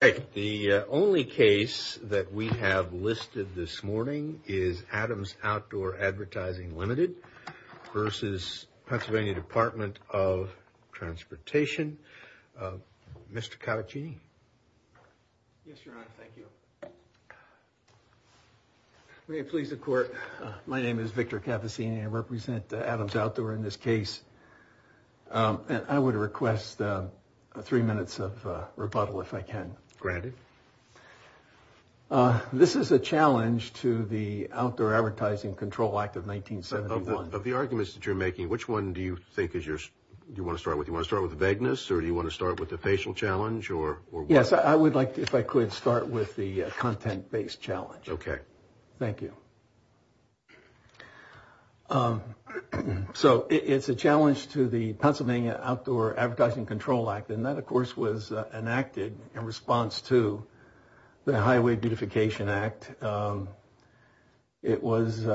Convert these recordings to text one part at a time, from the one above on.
The only case that we have listed this morning is AdamsOutdoorAdvertisingLimited versus PennsylvaniaDepartmentofTransportation. Mr. Cavaccini. Yes, Your Honor. Thank you. May it please the Court, my name is Victor Cavaccini. I represent AdamsOutdoorAdvertisingLimited in this case. I would request three minutes of rebuttal if I can. Granted. This is a challenge to the Outdoor Advertising Control Act of 1971. Of the arguments that you're making, which one do you think you want to start with? Do you want to start with the vagueness or do you want to start with the facial challenge? Yes, I would like to, if I could, start with the content-based challenge. Okay. Thank you. So it's a challenge to the Pennsylvania Outdoor Advertising Control Act. And that, of course, was enacted in response to the Highway Beautification Act. It was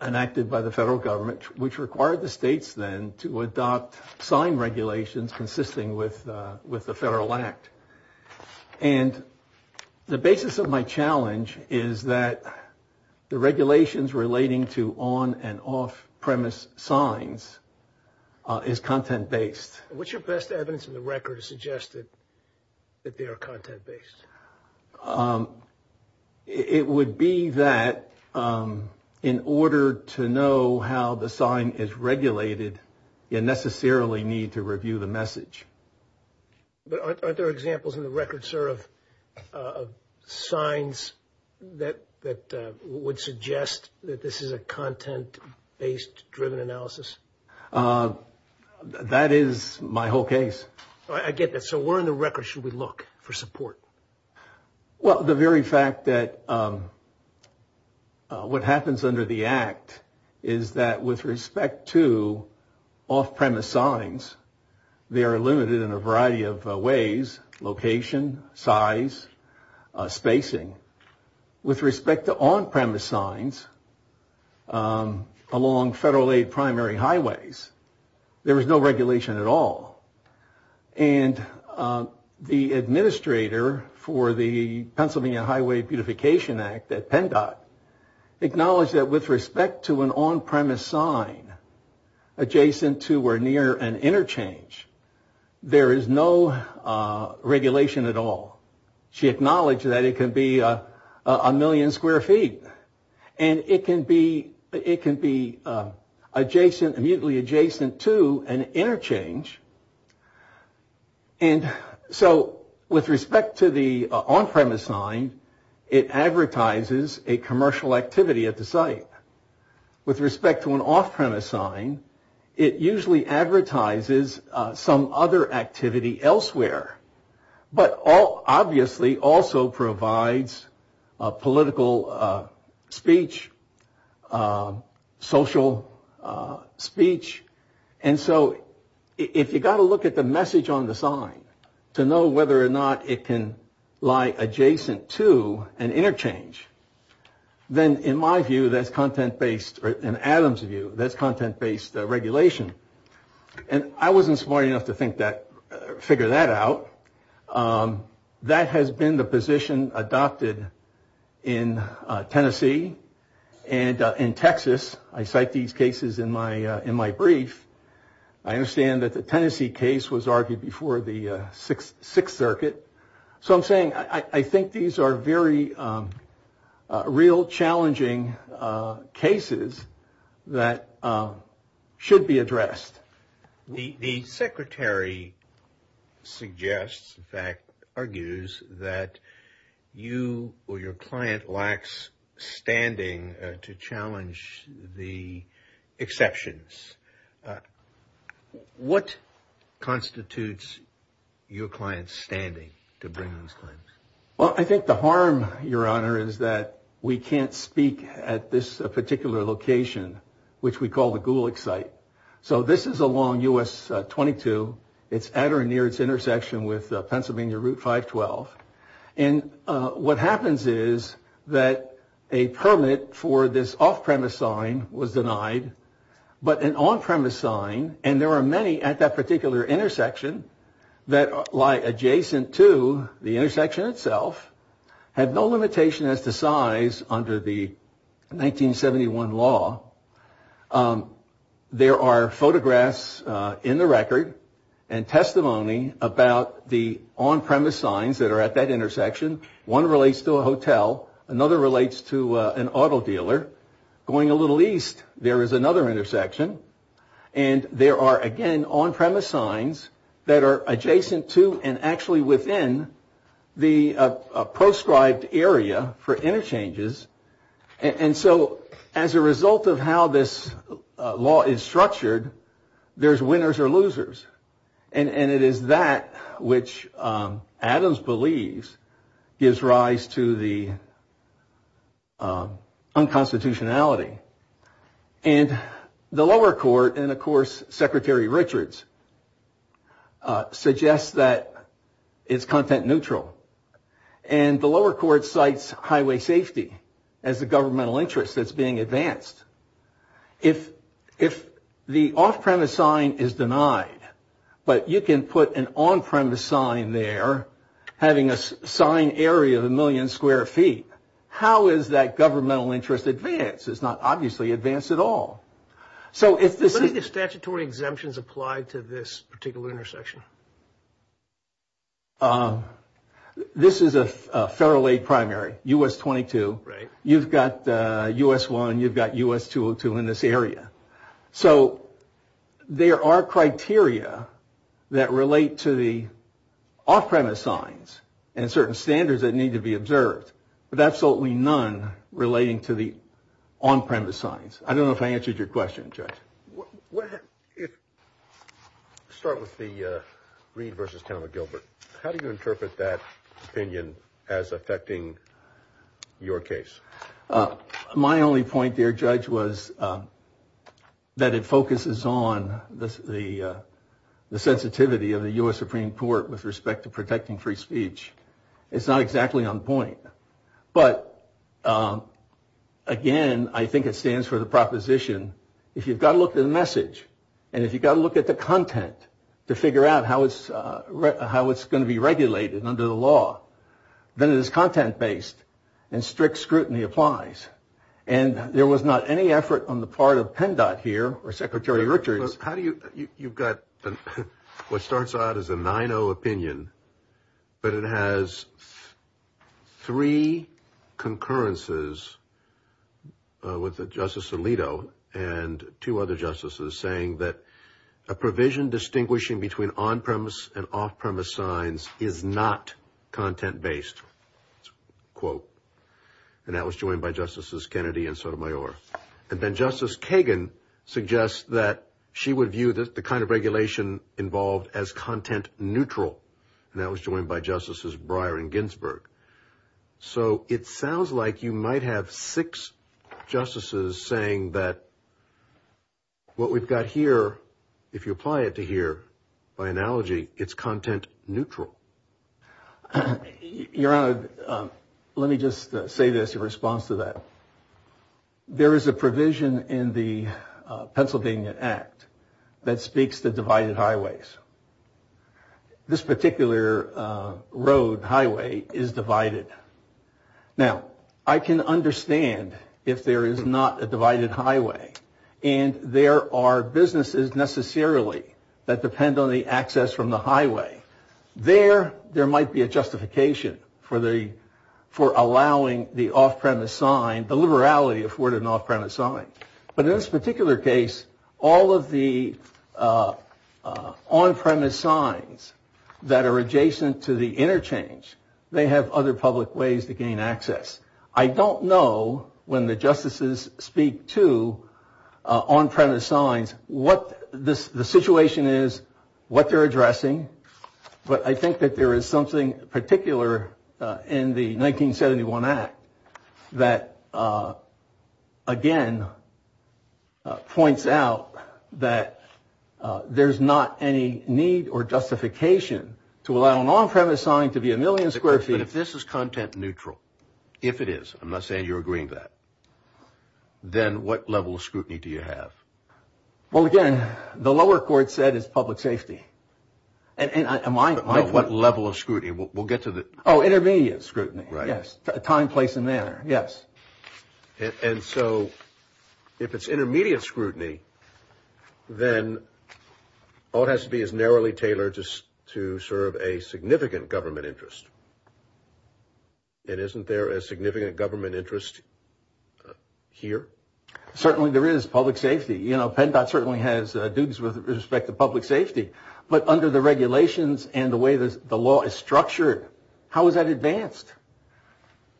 enacted by the federal government, which required the states then to adopt sign regulations consisting with the federal act. And the basis of my challenge is that the regulations relating to on- and off-premise signs is content-based. And what's your best evidence in the record to suggest that they are content-based? It would be that in order to know how the sign is regulated, you necessarily need to review the message. But aren't there examples in the record, sir, of signs that would suggest that this is a content-based driven analysis? That is my whole case. I get that. So where in the record should we look for support? Well, the very fact that what happens under the act is that with respect to off-premise signs, they are limited in a variety of ways, location, size, spacing. With respect to on-premise signs along federal-aid primary highways, there is no regulation at all. And the administrator for the Pennsylvania Highway Beautification Act at PennDOT acknowledged that with respect to an on-premise sign adjacent to or near an interchange, there is no regulation at all. She acknowledged that it can be a million square feet. And it can be adjacent, immediately adjacent to an interchange. And so with respect to the on-premise sign, it advertises a commercial activity at the site. With respect to an off-premise sign, it usually advertises some other activity elsewhere. But obviously also provides political speech, social speech. And so if you've got to look at the message on the sign to know whether or not it can lie adjacent to an interchange, then in my view, that's content-based. In Adam's view, that's content-based regulation. So that has been the position adopted in Tennessee and in Texas. I cite these cases in my brief. I understand that the Tennessee case was argued before the Sixth Circuit. So I'm saying I think these are very real challenging cases that should be addressed. The secretary suggests, in fact argues, that you or your client lacks standing to challenge the exceptions. What constitutes your client's standing to bring these claims? Well, I think the harm, Your Honor, is that we can't speak at this particular location, which we call the Gulick site. So this is along US 22. It's at or near its intersection with Pennsylvania Route 512. And what happens is that a permit for this off-premise sign was denied. But an on-premise sign, and there are many at that particular intersection that lie adjacent to the intersection itself, have no limitation as to size under the 1971 law. There are photographs in the record and testimony about the on-premise signs that are at that intersection. One relates to a hotel. Another relates to an auto dealer. Going a little east, there is another intersection. And there are, again, on-premise signs that are adjacent to and actually within the proscribed area for interchanges. And so as a result of how this law is structured, there's winners or losers. And it is that which Adams believes gives rise to the unconstitutionality. And the lower court, and of course Secretary Richards, suggests that it's content neutral. And the lower court cites highway safety as the governmental interest that's being advanced. If the off-premise sign is denied, but you can put an on-premise sign there having a sign area of a million square feet, how is that governmental interest advanced? It's not obviously advanced at all. This is a federal aid primary, U.S. 22. You've got U.S. 1. You've got U.S. 202 in this area. So there are criteria that relate to the off-premise signs and certain standards that need to be observed. But absolutely none relating to the on-premise signs. I don't know if I answered your question, Judge. Start with the Reed v. Taylor Gilbert. How do you interpret that opinion as affecting your case? My only point there, Judge, was that it focuses on the sensitivity of the U.S. Supreme Court with respect to protecting free speech. It's not exactly on point. But again, I think it stands for the proposition, if you've got to look at the message and if you've got to look at the content to figure out how it's going to be regulated under the law, then it is content-based and strict scrutiny applies. And there was not any effort on the part of PennDOT here or Secretary Richards. You've got what starts out as a 9-0 opinion, but it has three concurrences with Justice Alito and two other justices saying that a provision distinguishing between on-premise and off-premise signs is not content-based. And that was joined by Justices Kennedy and Sotomayor. She would view the kind of regulation involved as content-neutral, and that was joined by Justices Breyer and Ginsburg. So it sounds like you might have six justices saying that what we've got here, if you apply it to here, by analogy, it's content-neutral. Your Honor, let me just say this in response to that. There is a provision in the Pennsylvania Act that speaks to divided highways. This particular road, highway, is divided. Now, I can understand if there is not a divided highway, and there are businesses necessarily that depend on the access from the highway. There, there might be a justification for allowing the off-premise sign, the liberality afforded an off-premise sign. But in this particular case, all of the on-premise signs that are adjacent to the interchange, they have other public ways to gain access. I don't know, when the justices speak to on-premise signs, what the situation is, what they're addressing, and how they're addressing it. But I think that there is something particular in the 1971 Act that, again, points out that there's not any need or justification to allow an on-premise sign to be a million square feet. But if this is content-neutral, if it is, I'm not saying you're agreeing with that, then what level of scrutiny do you have? Well, again, the lower court said it's public safety. But what level of scrutiny? We'll get to the... Oh, intermediate scrutiny, yes, time, place, and manner, yes. And so if it's intermediate scrutiny, then all it has to be is narrowly tailored to serve a significant government interest. And isn't there a significant government interest here? Certainly there is public safety. You know, PennDOT certainly has duties with respect to public safety. But under the regulations and the way the law is structured, how is that advanced?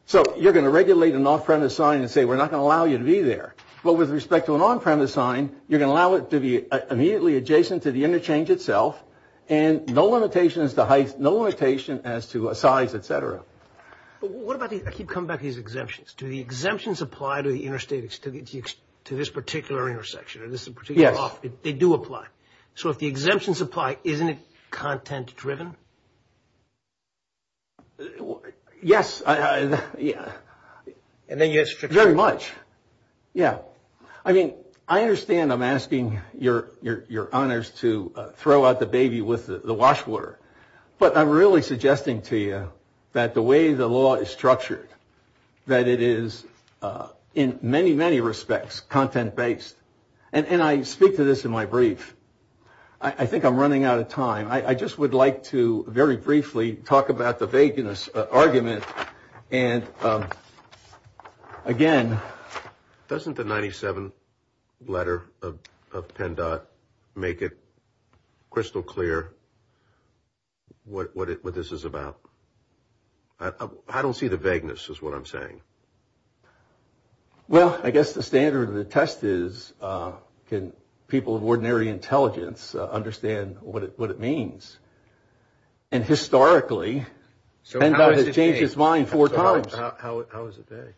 So you're going to regulate an on-premise sign and say we're not going to allow you to be there. But with respect to an on-premise sign, you're going to allow it to be immediately adjacent to the interchange itself, and no limitation as to height, no limitation as to size, et cetera. I keep coming back to these exemptions. Do the exemptions apply to this particular intersection or this particular office? They do apply. So if the exemptions apply, isn't it content-driven? Yes, very much. Yeah, I mean, I understand I'm asking your honors to throw out the baby with the wash water. But I'm really suggesting to you that the way the law is structured, that it is in many, many respects content-based. And I speak to this in my brief. I think I'm running out of time. I just would like to very briefly talk about the vagueness argument. And again... Doesn't the 97th letter of PennDOT make it crystal clear what this is about? I don't see the vagueness is what I'm saying. Well, I guess the standard of the test is can people of ordinary intelligence understand what it means? And historically, PennDOT has changed its mind four times. How is it that?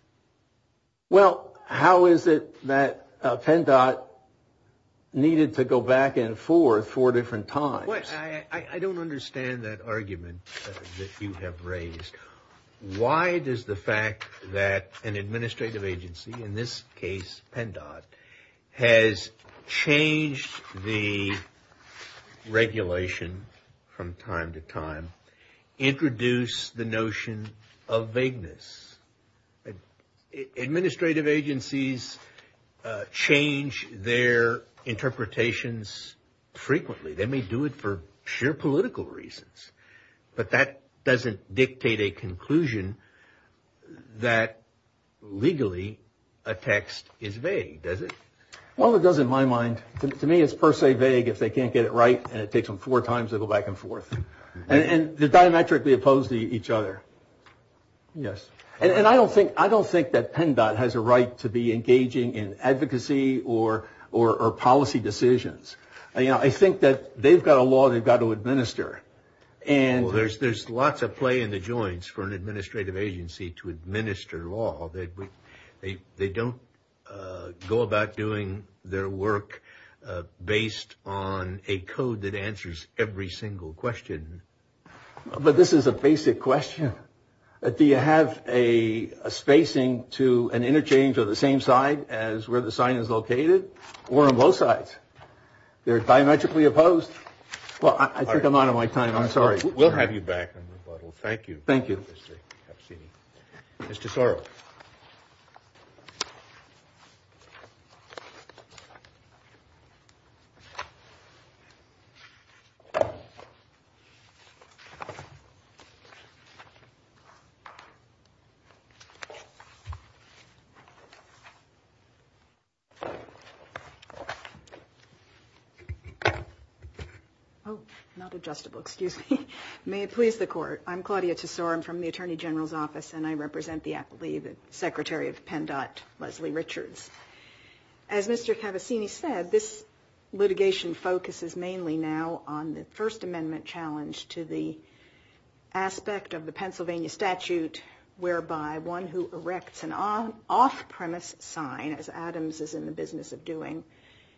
Well, how is it that PennDOT needed to go back and forth four different times? I don't understand that argument that you have raised. Why does the fact that an administrative agency, in this case PennDOT, has changed the regulation from time to time introduce the notion of vagueness? Administrative agencies change their interpretations frequently. They may do it for sheer political reasons. But that doesn't dictate a conclusion that legally a text is vague, does it? Well, it does in my mind. To me, it's per se vague if they can't get it right and it takes them four times to go back and forth. And they're diametrically opposed to each other. Yes. And I don't think that PennDOT has a right to be engaging in advocacy or policy decisions. I think that they've got a law they've got to administer. Well, there's lots of play in the joints for an administrative agency to administer law. They don't go about doing their work based on a code that answers every single question. But this is a basic question. Do you have a spacing to an interchange of the same side as where the sign is located or on both sides? They're diametrically opposed. Well, I think I'm out of my time. I'm sorry. We'll have you back. Thank you. Thank you. Mr. Sorrell. Oh, not adjustable. Excuse me. May it please the Court. I'm Claudia Tesor. I'm from the Attorney General's Office. And I represent the Secretary of PennDOT, Leslie Richards. As Mr. Cavazzini said, this litigation focuses mainly now on the First Amendment challenge to the aspect of the Pennsylvania statute whereby one who erects an off-premise sign, as Adams is in the business of doing,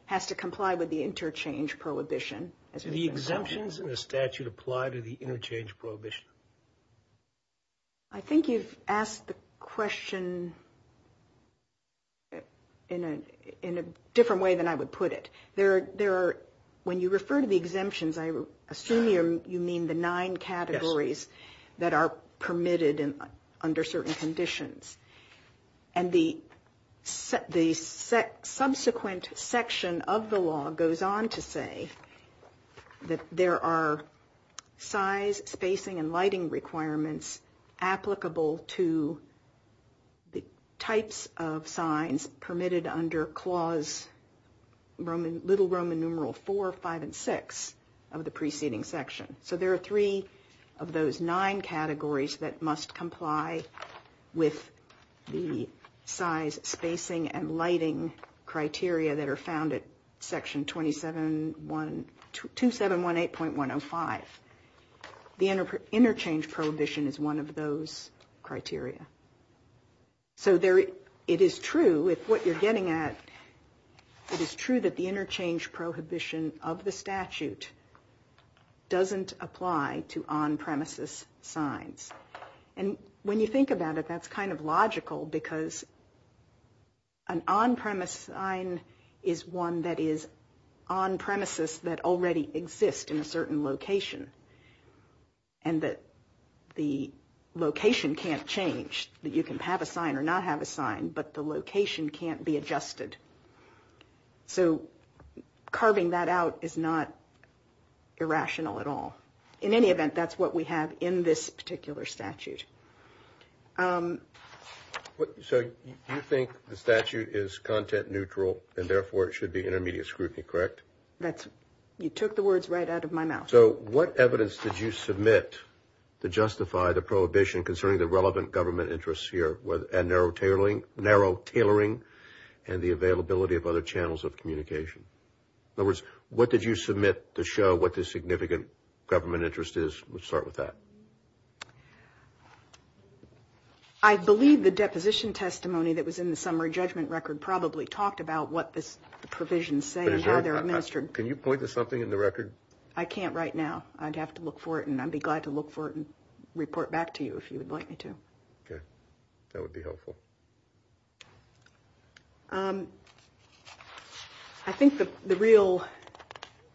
has to comply with the interchange prohibition. Do the exemptions in the statute apply to the interchange prohibition? I think you've asked the question in a different way than I would put it. When you refer to the exemptions, I assume you mean the nine categories that are permitted under certain conditions. And the subsequent section of the law goes on to say that there are size, spacing, and lighting requirements applicable to the types of signs permitted under Clause Little Roman Numeral 4, 5, and 6 of the preceding section. So there are three of those nine categories that must comply with the size, spacing, and lighting criteria that are found at Section 2718.105. The interchange prohibition is one of those criteria. So it is true, with what you're getting at, it is true that the interchange prohibition of the statute doesn't apply to on-premises signs. And when you think about it, that's kind of logical because an on-premise sign is one that is on-premises that already exist in a certain location. And the location can't change. You can have a sign or not have a sign, but the location can't be adjusted. So carving that out is not irrational at all. In any event, that's what we have in this particular statute. So you think the statute is content neutral, and therefore it should be intermediate scrutiny, correct? You took the words right out of my mouth. So what evidence did you submit to justify the prohibition concerning the relevant government interests here, and narrow tailoring, and the availability of other channels of communication? In other words, what did you submit to show what the significant government interest is? Let's start with that. I believe the deposition testimony that was in the summary judgment record probably talked about what the provisions say and how they're administered. Can you point to something in the record? I can't right now. I'd have to look for it, and I'd be glad to look for it and report back to you if you would like me to. Okay. That would be helpful. I think the real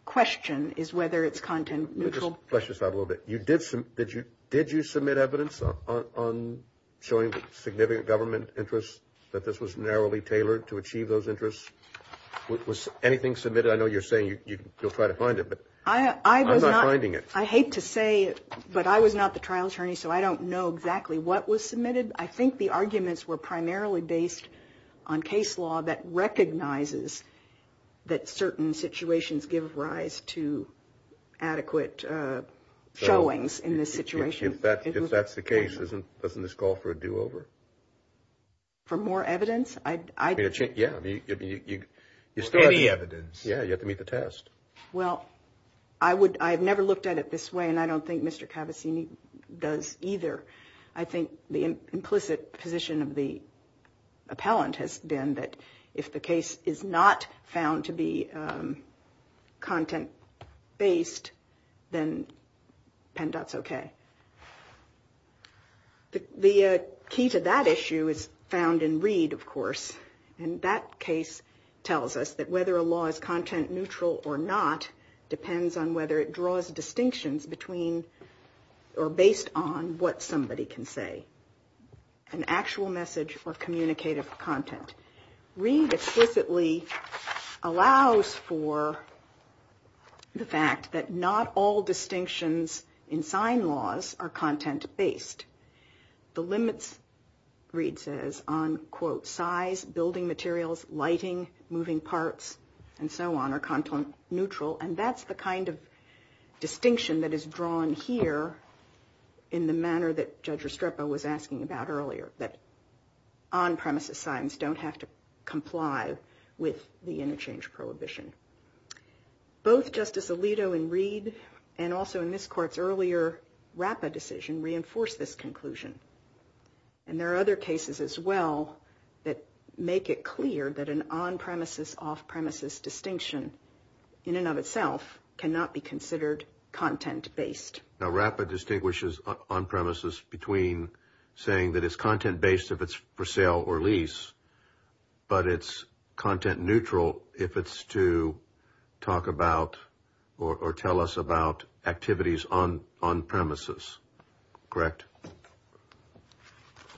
question is whether it's content neutral. Let's just have a little bit. Did you submit evidence on showing significant government interests that this was narrowly tailored to achieve those interests? Was anything submitted? I know you're saying you'll try to find it, but I'm not finding it. I hate to say it, but I was not the trial attorney, so I don't know exactly what was submitted. I think the arguments were primarily based on case law that recognizes that certain situations give rise to adequate showings in this situation. If that's the case, doesn't this call for a do-over? For more evidence? Any evidence. Yeah, you have to meet the test. Well, I've never looked at it this way, and I don't think Mr. Cavazzini does either. I think the implicit position of the appellant has been that if the case is not found to be content-based, then PennDOT's okay. The key to that issue is found in Reed, of course. And that case tells us that whether a law is content neutral or not depends on whether it draws distinctions between, or based on, what some people are saying. An actual message or communicative content. Reed explicitly allows for the fact that not all distinctions in sign laws are content-based. The limits, Reed says, on, quote, size, building materials, lighting, moving parts, and so on, are content-neutral. And that's the kind of distinction that is drawn here in the manner that PennDOT has drawn it. And that's what Judge Restrepo was asking about earlier, that on-premises signs don't have to comply with the interchange prohibition. Both Justice Alito in Reed, and also in this Court's earlier RAPPA decision, reinforced this conclusion. And there are other cases as well that make it clear that an on-premises, off-premises distinction, in and of itself, cannot be considered content-based. Now, RAPPA distinguishes on-premises between saying that it's content-based if it's for sale or lease, but it's content-neutral if it's to talk about or tell us about activities on-premises. Correct?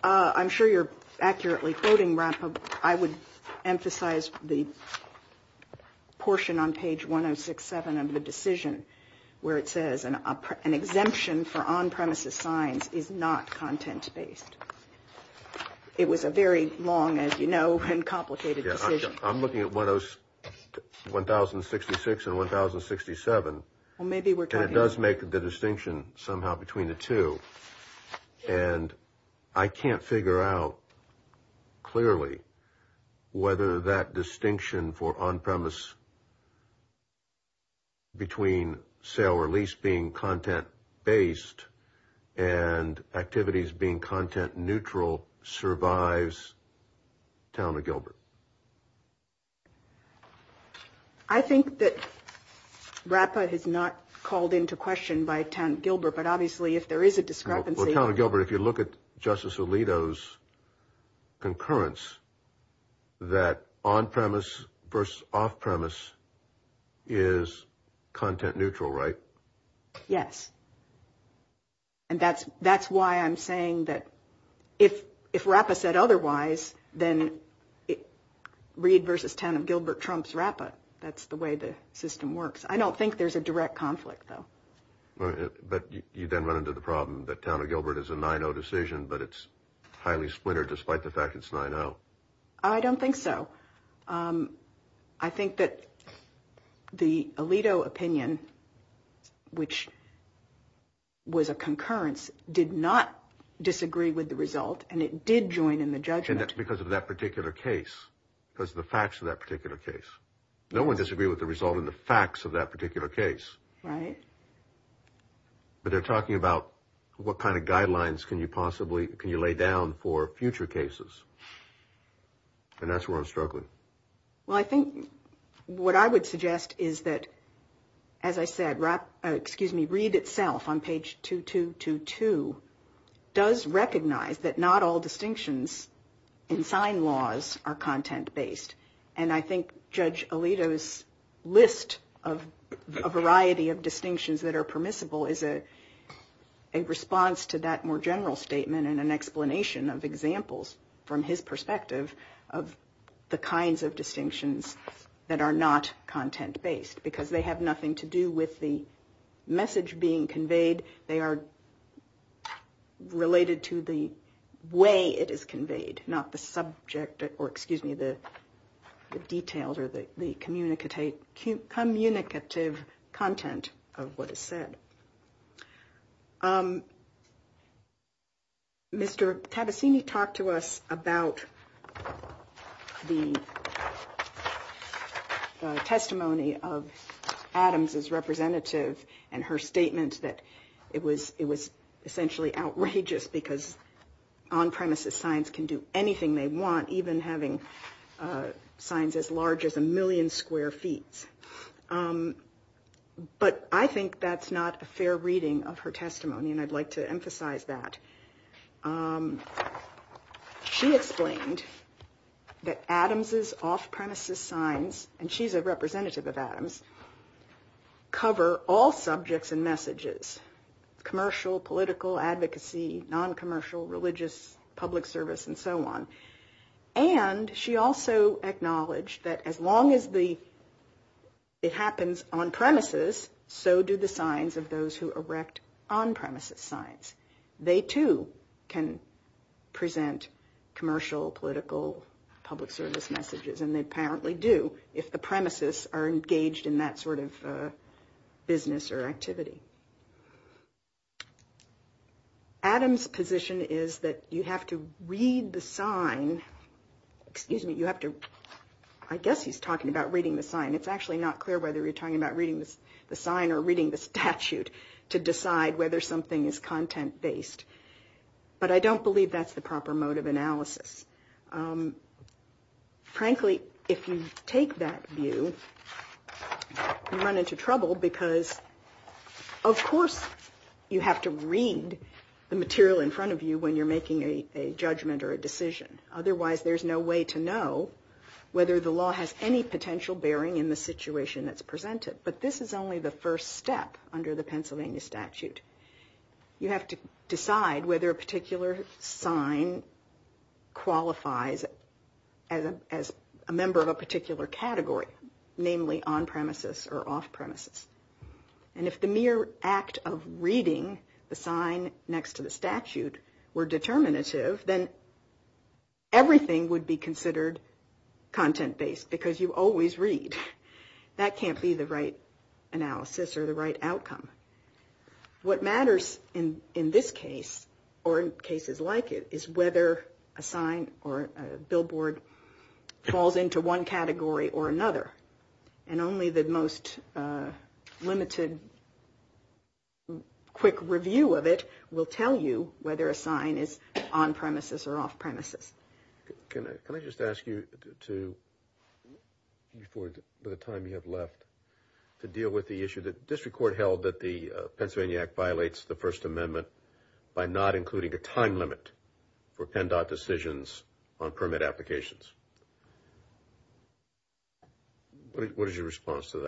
I'm sure you're accurately quoting RAPPA. I would emphasize the portion on page 1067 of the decision where it says an exemption for on-premises signs is not content-based. It was a very long, as you know, and complicated decision. I'm looking at 1066 and 1067, and it does make the distinction somehow between the two. And I can't figure out clearly whether that distinction for on-premise between sale or lease being content-based and activities being content-neutral survives Town of Gilbert. I think that RAPPA has not called into question by Town of Gilbert, but obviously, if there is a discussion of content-based activities, there is a discussion of content-neutral activities. Well, Town of Gilbert, if you look at Justice Alito's concurrence that on-premise versus off-premise is content-neutral, right? Yes. And that's why I'm saying that if RAPPA said otherwise, then read versus 10 of Gilbert Trump's RAPPA. That's the way the system works. I don't think there's a direct conflict, though. But you then run into the problem that Town of Gilbert is a 9-0 decision, but it's highly splintered despite the fact it's 9-0. I don't think so. I think that the Alito opinion, which was a concurrence, did not disagree with the result, and it did join in the judgment. And that's because of that particular case, because of the facts of that particular case. No one disagreed with the result and the facts of that particular case. Right. But they're talking about what kind of guidelines can you possibly lay down for future cases. And that's where I'm struggling. Well, I think what I would suggest is that, as I said, read itself on page 2222 does recognize that not all distinctions in sign laws are content-based. And I think Judge Alito's list of a variety of distinctions that are permissible is a response to that more general statement and an explanation of examples from his perspective of the kinds of distinctions that are not content-based. Because they have nothing to do with the message being conveyed. They are related to the way it is conveyed, not the subject or, excuse me, the content. The details or the communicative content of what is said. Mr. Tabbassini talked to us about the testimony of Adams's representative and her statement that it was essentially outrageous because on-premises signs can do anything they want, even having a sign that says, you know, signs as large as a million square feet. But I think that's not a fair reading of her testimony. And I'd like to emphasize that. She explained that Adams's off-premises signs, and she's a representative of Adams, cover all subjects and messages, commercial, political, advocacy, non-commercial, religious, public service, and so on. And she also acknowledged that as long as it happens on-premises, so do the signs of those who erect on-premises signs. They, too, can present commercial, political, public service messages, and they apparently do if the premises are engaged in that sort of business or activity. Adams's position is that you have to read the sign, excuse me, you have to, I guess he's talking about reading the sign. It's actually not clear whether you're talking about reading the sign or reading the statute to decide whether something is content-based. But I don't believe that's the proper mode of analysis. Frankly, if you take that view, you run into trouble, because you have to read the sign. Of course, you have to read the material in front of you when you're making a judgment or a decision. Otherwise, there's no way to know whether the law has any potential bearing in the situation that's presented. But this is only the first step under the Pennsylvania statute. You have to decide whether a particular sign qualifies as a member of a particular category, namely on-premises or off-premises. And if the mere act of reading the sign next to the statute were determinative, then everything would be considered content-based, because you always read. That can't be the right analysis or the right outcome. What matters in this case, or in cases like it, is whether a sign or a billboard falls into one category or another. And only the most limited, quick review of it will tell you whether a sign is on-premises or off-premises. Can I just ask you to, for the time you have left, to deal with the issue that the District Court held that the Pennsylvania Act violates the First Amendment by not including a time limit for PennDOT decisions on permit applications. What is your response to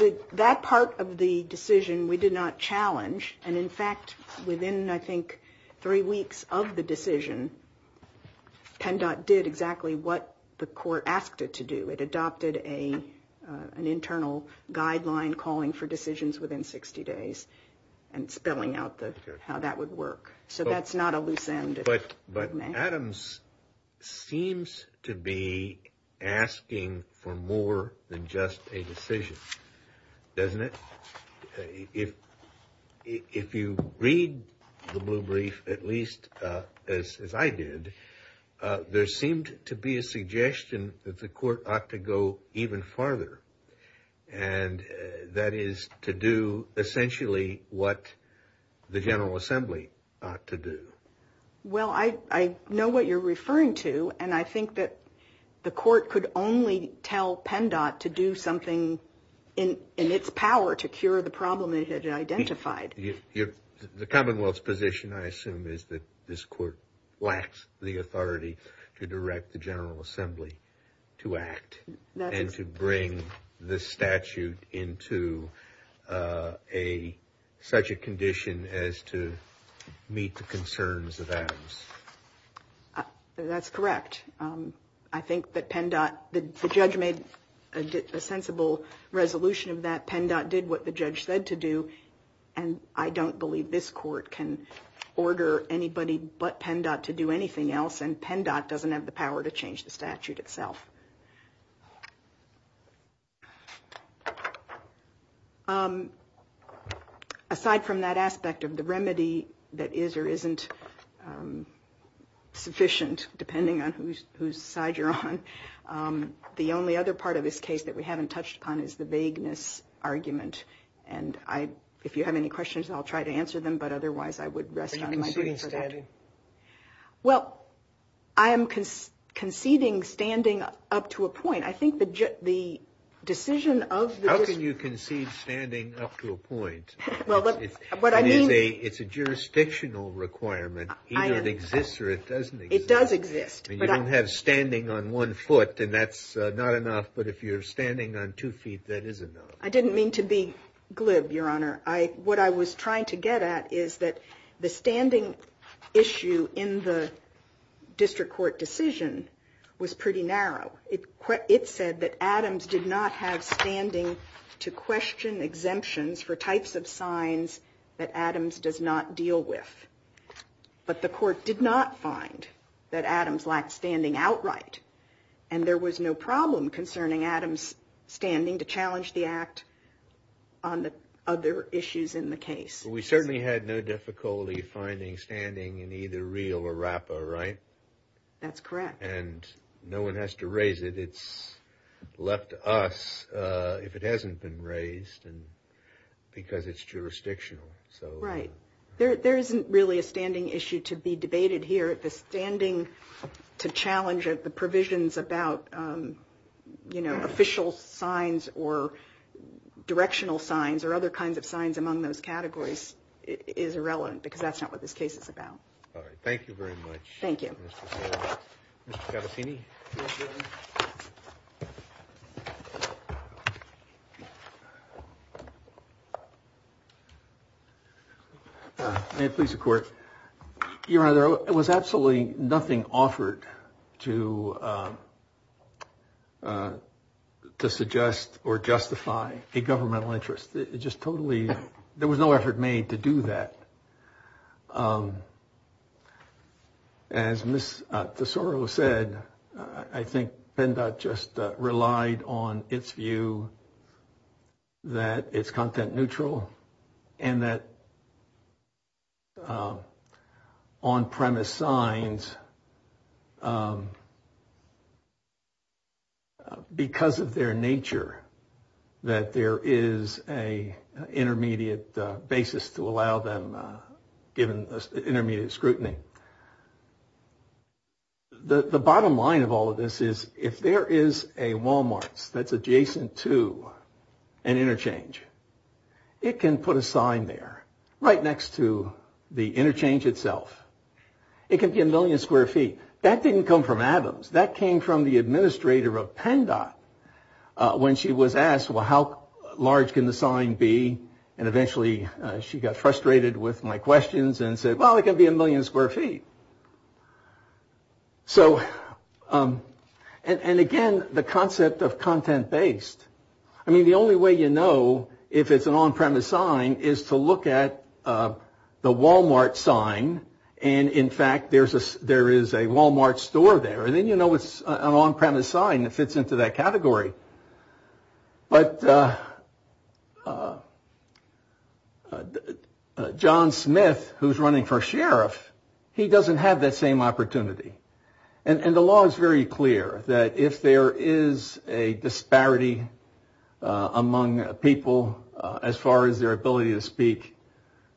that? That part of the decision we did not challenge. And, in fact, within, I think, three weeks of the decision, PennDOT did exactly what the court asked it to do. It adopted an internal guideline calling for decisions within 60 days and spelling out how that would work. So that's not a loose end. But Adams seems to be asking for more than just a decision, doesn't it? If you read the blue brief, at least as I did, there seemed to be a suggestion that the court ought to go even farther. And that is to do, essentially, what the General Assembly ought to do. Well, I know what you're referring to, and I think that the court could only tell PennDOT to do something in its power to cure the problem it had identified. The Commonwealth's position, I assume, is that this court lacks the authority to direct the General Assembly to act and to bring the statute into such a condition as to meet the concerns of the Commonwealth. That's correct. I think that PennDOT, the judge made a sensible resolution of that. PennDOT did what the judge said to do. And I don't believe this court can order anybody but PennDOT to do anything else. And PennDOT doesn't have the power to change the statute itself. Aside from that aspect of the remedy that is or isn't sufficient, depending on whose side you're on, the only other part of this case that we haven't touched upon is the vagueness argument. And if you have any questions, I'll try to answer them. But otherwise, I would rest on my boots. Thank you. I would like to make a comment. I am conceding standing up to a point. How can you concede standing up to a point? It's a jurisdictional requirement. It doesn't exist. You don't have standing on one foot, and that's not enough. But if you're standing on two feet, that is enough. I didn't mean to be glib, Your Honor. What I was trying to get at is that the standing issue in the district court decision was pretty narrow. It said that Adams did not have standing to question exemptions for types of signs that Adams does not deal with. But the court did not find that Adams lacked standing outright. And there was no problem concerning Adams' standing to challenge the act on the other issues in the case. We certainly had no difficulty finding standing in either Real or RAPA, right? That's correct. And no one has to raise it. It's left to us, if it hasn't been raised, because it's jurisdictional. Right. There isn't really a standing issue to be debated here. The standing to challenge the provisions about, you know, official signs or directional signs or other kinds of signs among those categories is irrelevant, because that's not what this case is about. All right. Thank you very much. Thank you. May it please the Court. Your Honor, there was absolutely nothing offered to suggest or justify a governmental interest. It just totally, there was no effort made to do that. As Ms. Tesoro said, I think PNDOT just relied on its view that it's content neutral and that on-premise signs, because of their nature, that there is an intermediate basis to allow them, given intermediate scrutiny. The bottom line of all of this is if there is a Walmart that's adjacent to an interchange, it can put a sign there right next to the interchange itself. It can be a million square feet. That didn't come from Adams. That came from the administrator of PNDOT when she was asked, well, how large can the sign be? And eventually she got frustrated with my questions and said, well, it can be a million square feet. So and again, the concept of content-based. I mean, the only way you know if it's an on-premise sign is to look at the Walmart sign. And in fact, there is a Walmart store there. And then you know it's an on-premise sign that fits into that category. But John Smith, who's running for sheriff, he doesn't have that same opportunity. And the law is very clear that if there is a disparity among people as far as their ability to speak,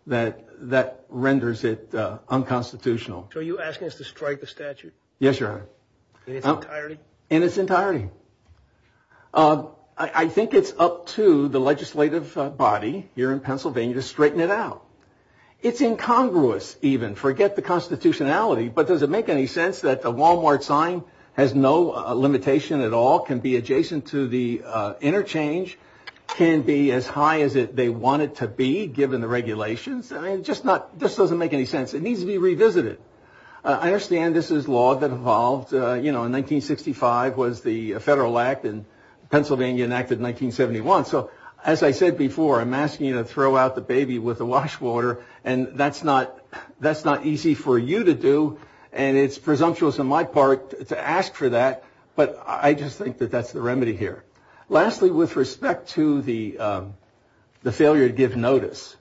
that renders it unconstitutional. So are you asking us to strike the statute? Yes, Your Honor. In its entirety. I think it's up to the legislative body here in Pennsylvania to straighten it out. It's incongruous even. Forget the constitutionality. But does it make any sense that the Walmart sign has no limitation at all? Can be adjacent to the interchange? Can be as high as they want it to be, given the regulations? I mean, it just doesn't make any sense. It needs to be revisited. I understand this is law that evolved. You know, in 1965 was the Federal Act and Pennsylvania enacted in 1971. So as I said before, I'm asking you to throw out the baby with the wash water. And that's not easy for you to do. And it's presumptuous on my part to ask for that. But I just think that that's the remedy here. Lastly, with respect to the failure to give notice.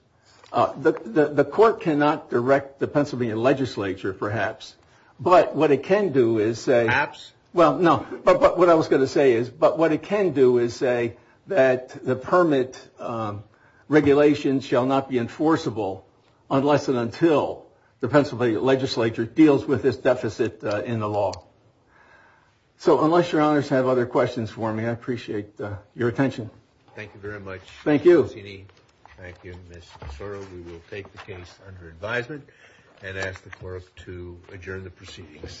The court cannot direct the Pennsylvania legislature, perhaps. But what it can do is say. Well, no, but what I was going to say is. But what it can do is say that the permit regulations shall not be enforceable. Unless and until the Pennsylvania legislature deals with this deficit in the law. So unless your honors have other questions for me, I appreciate your attention. Thank you very much. Thank you. We will take the case under advisement and ask the court to adjourn the proceedings.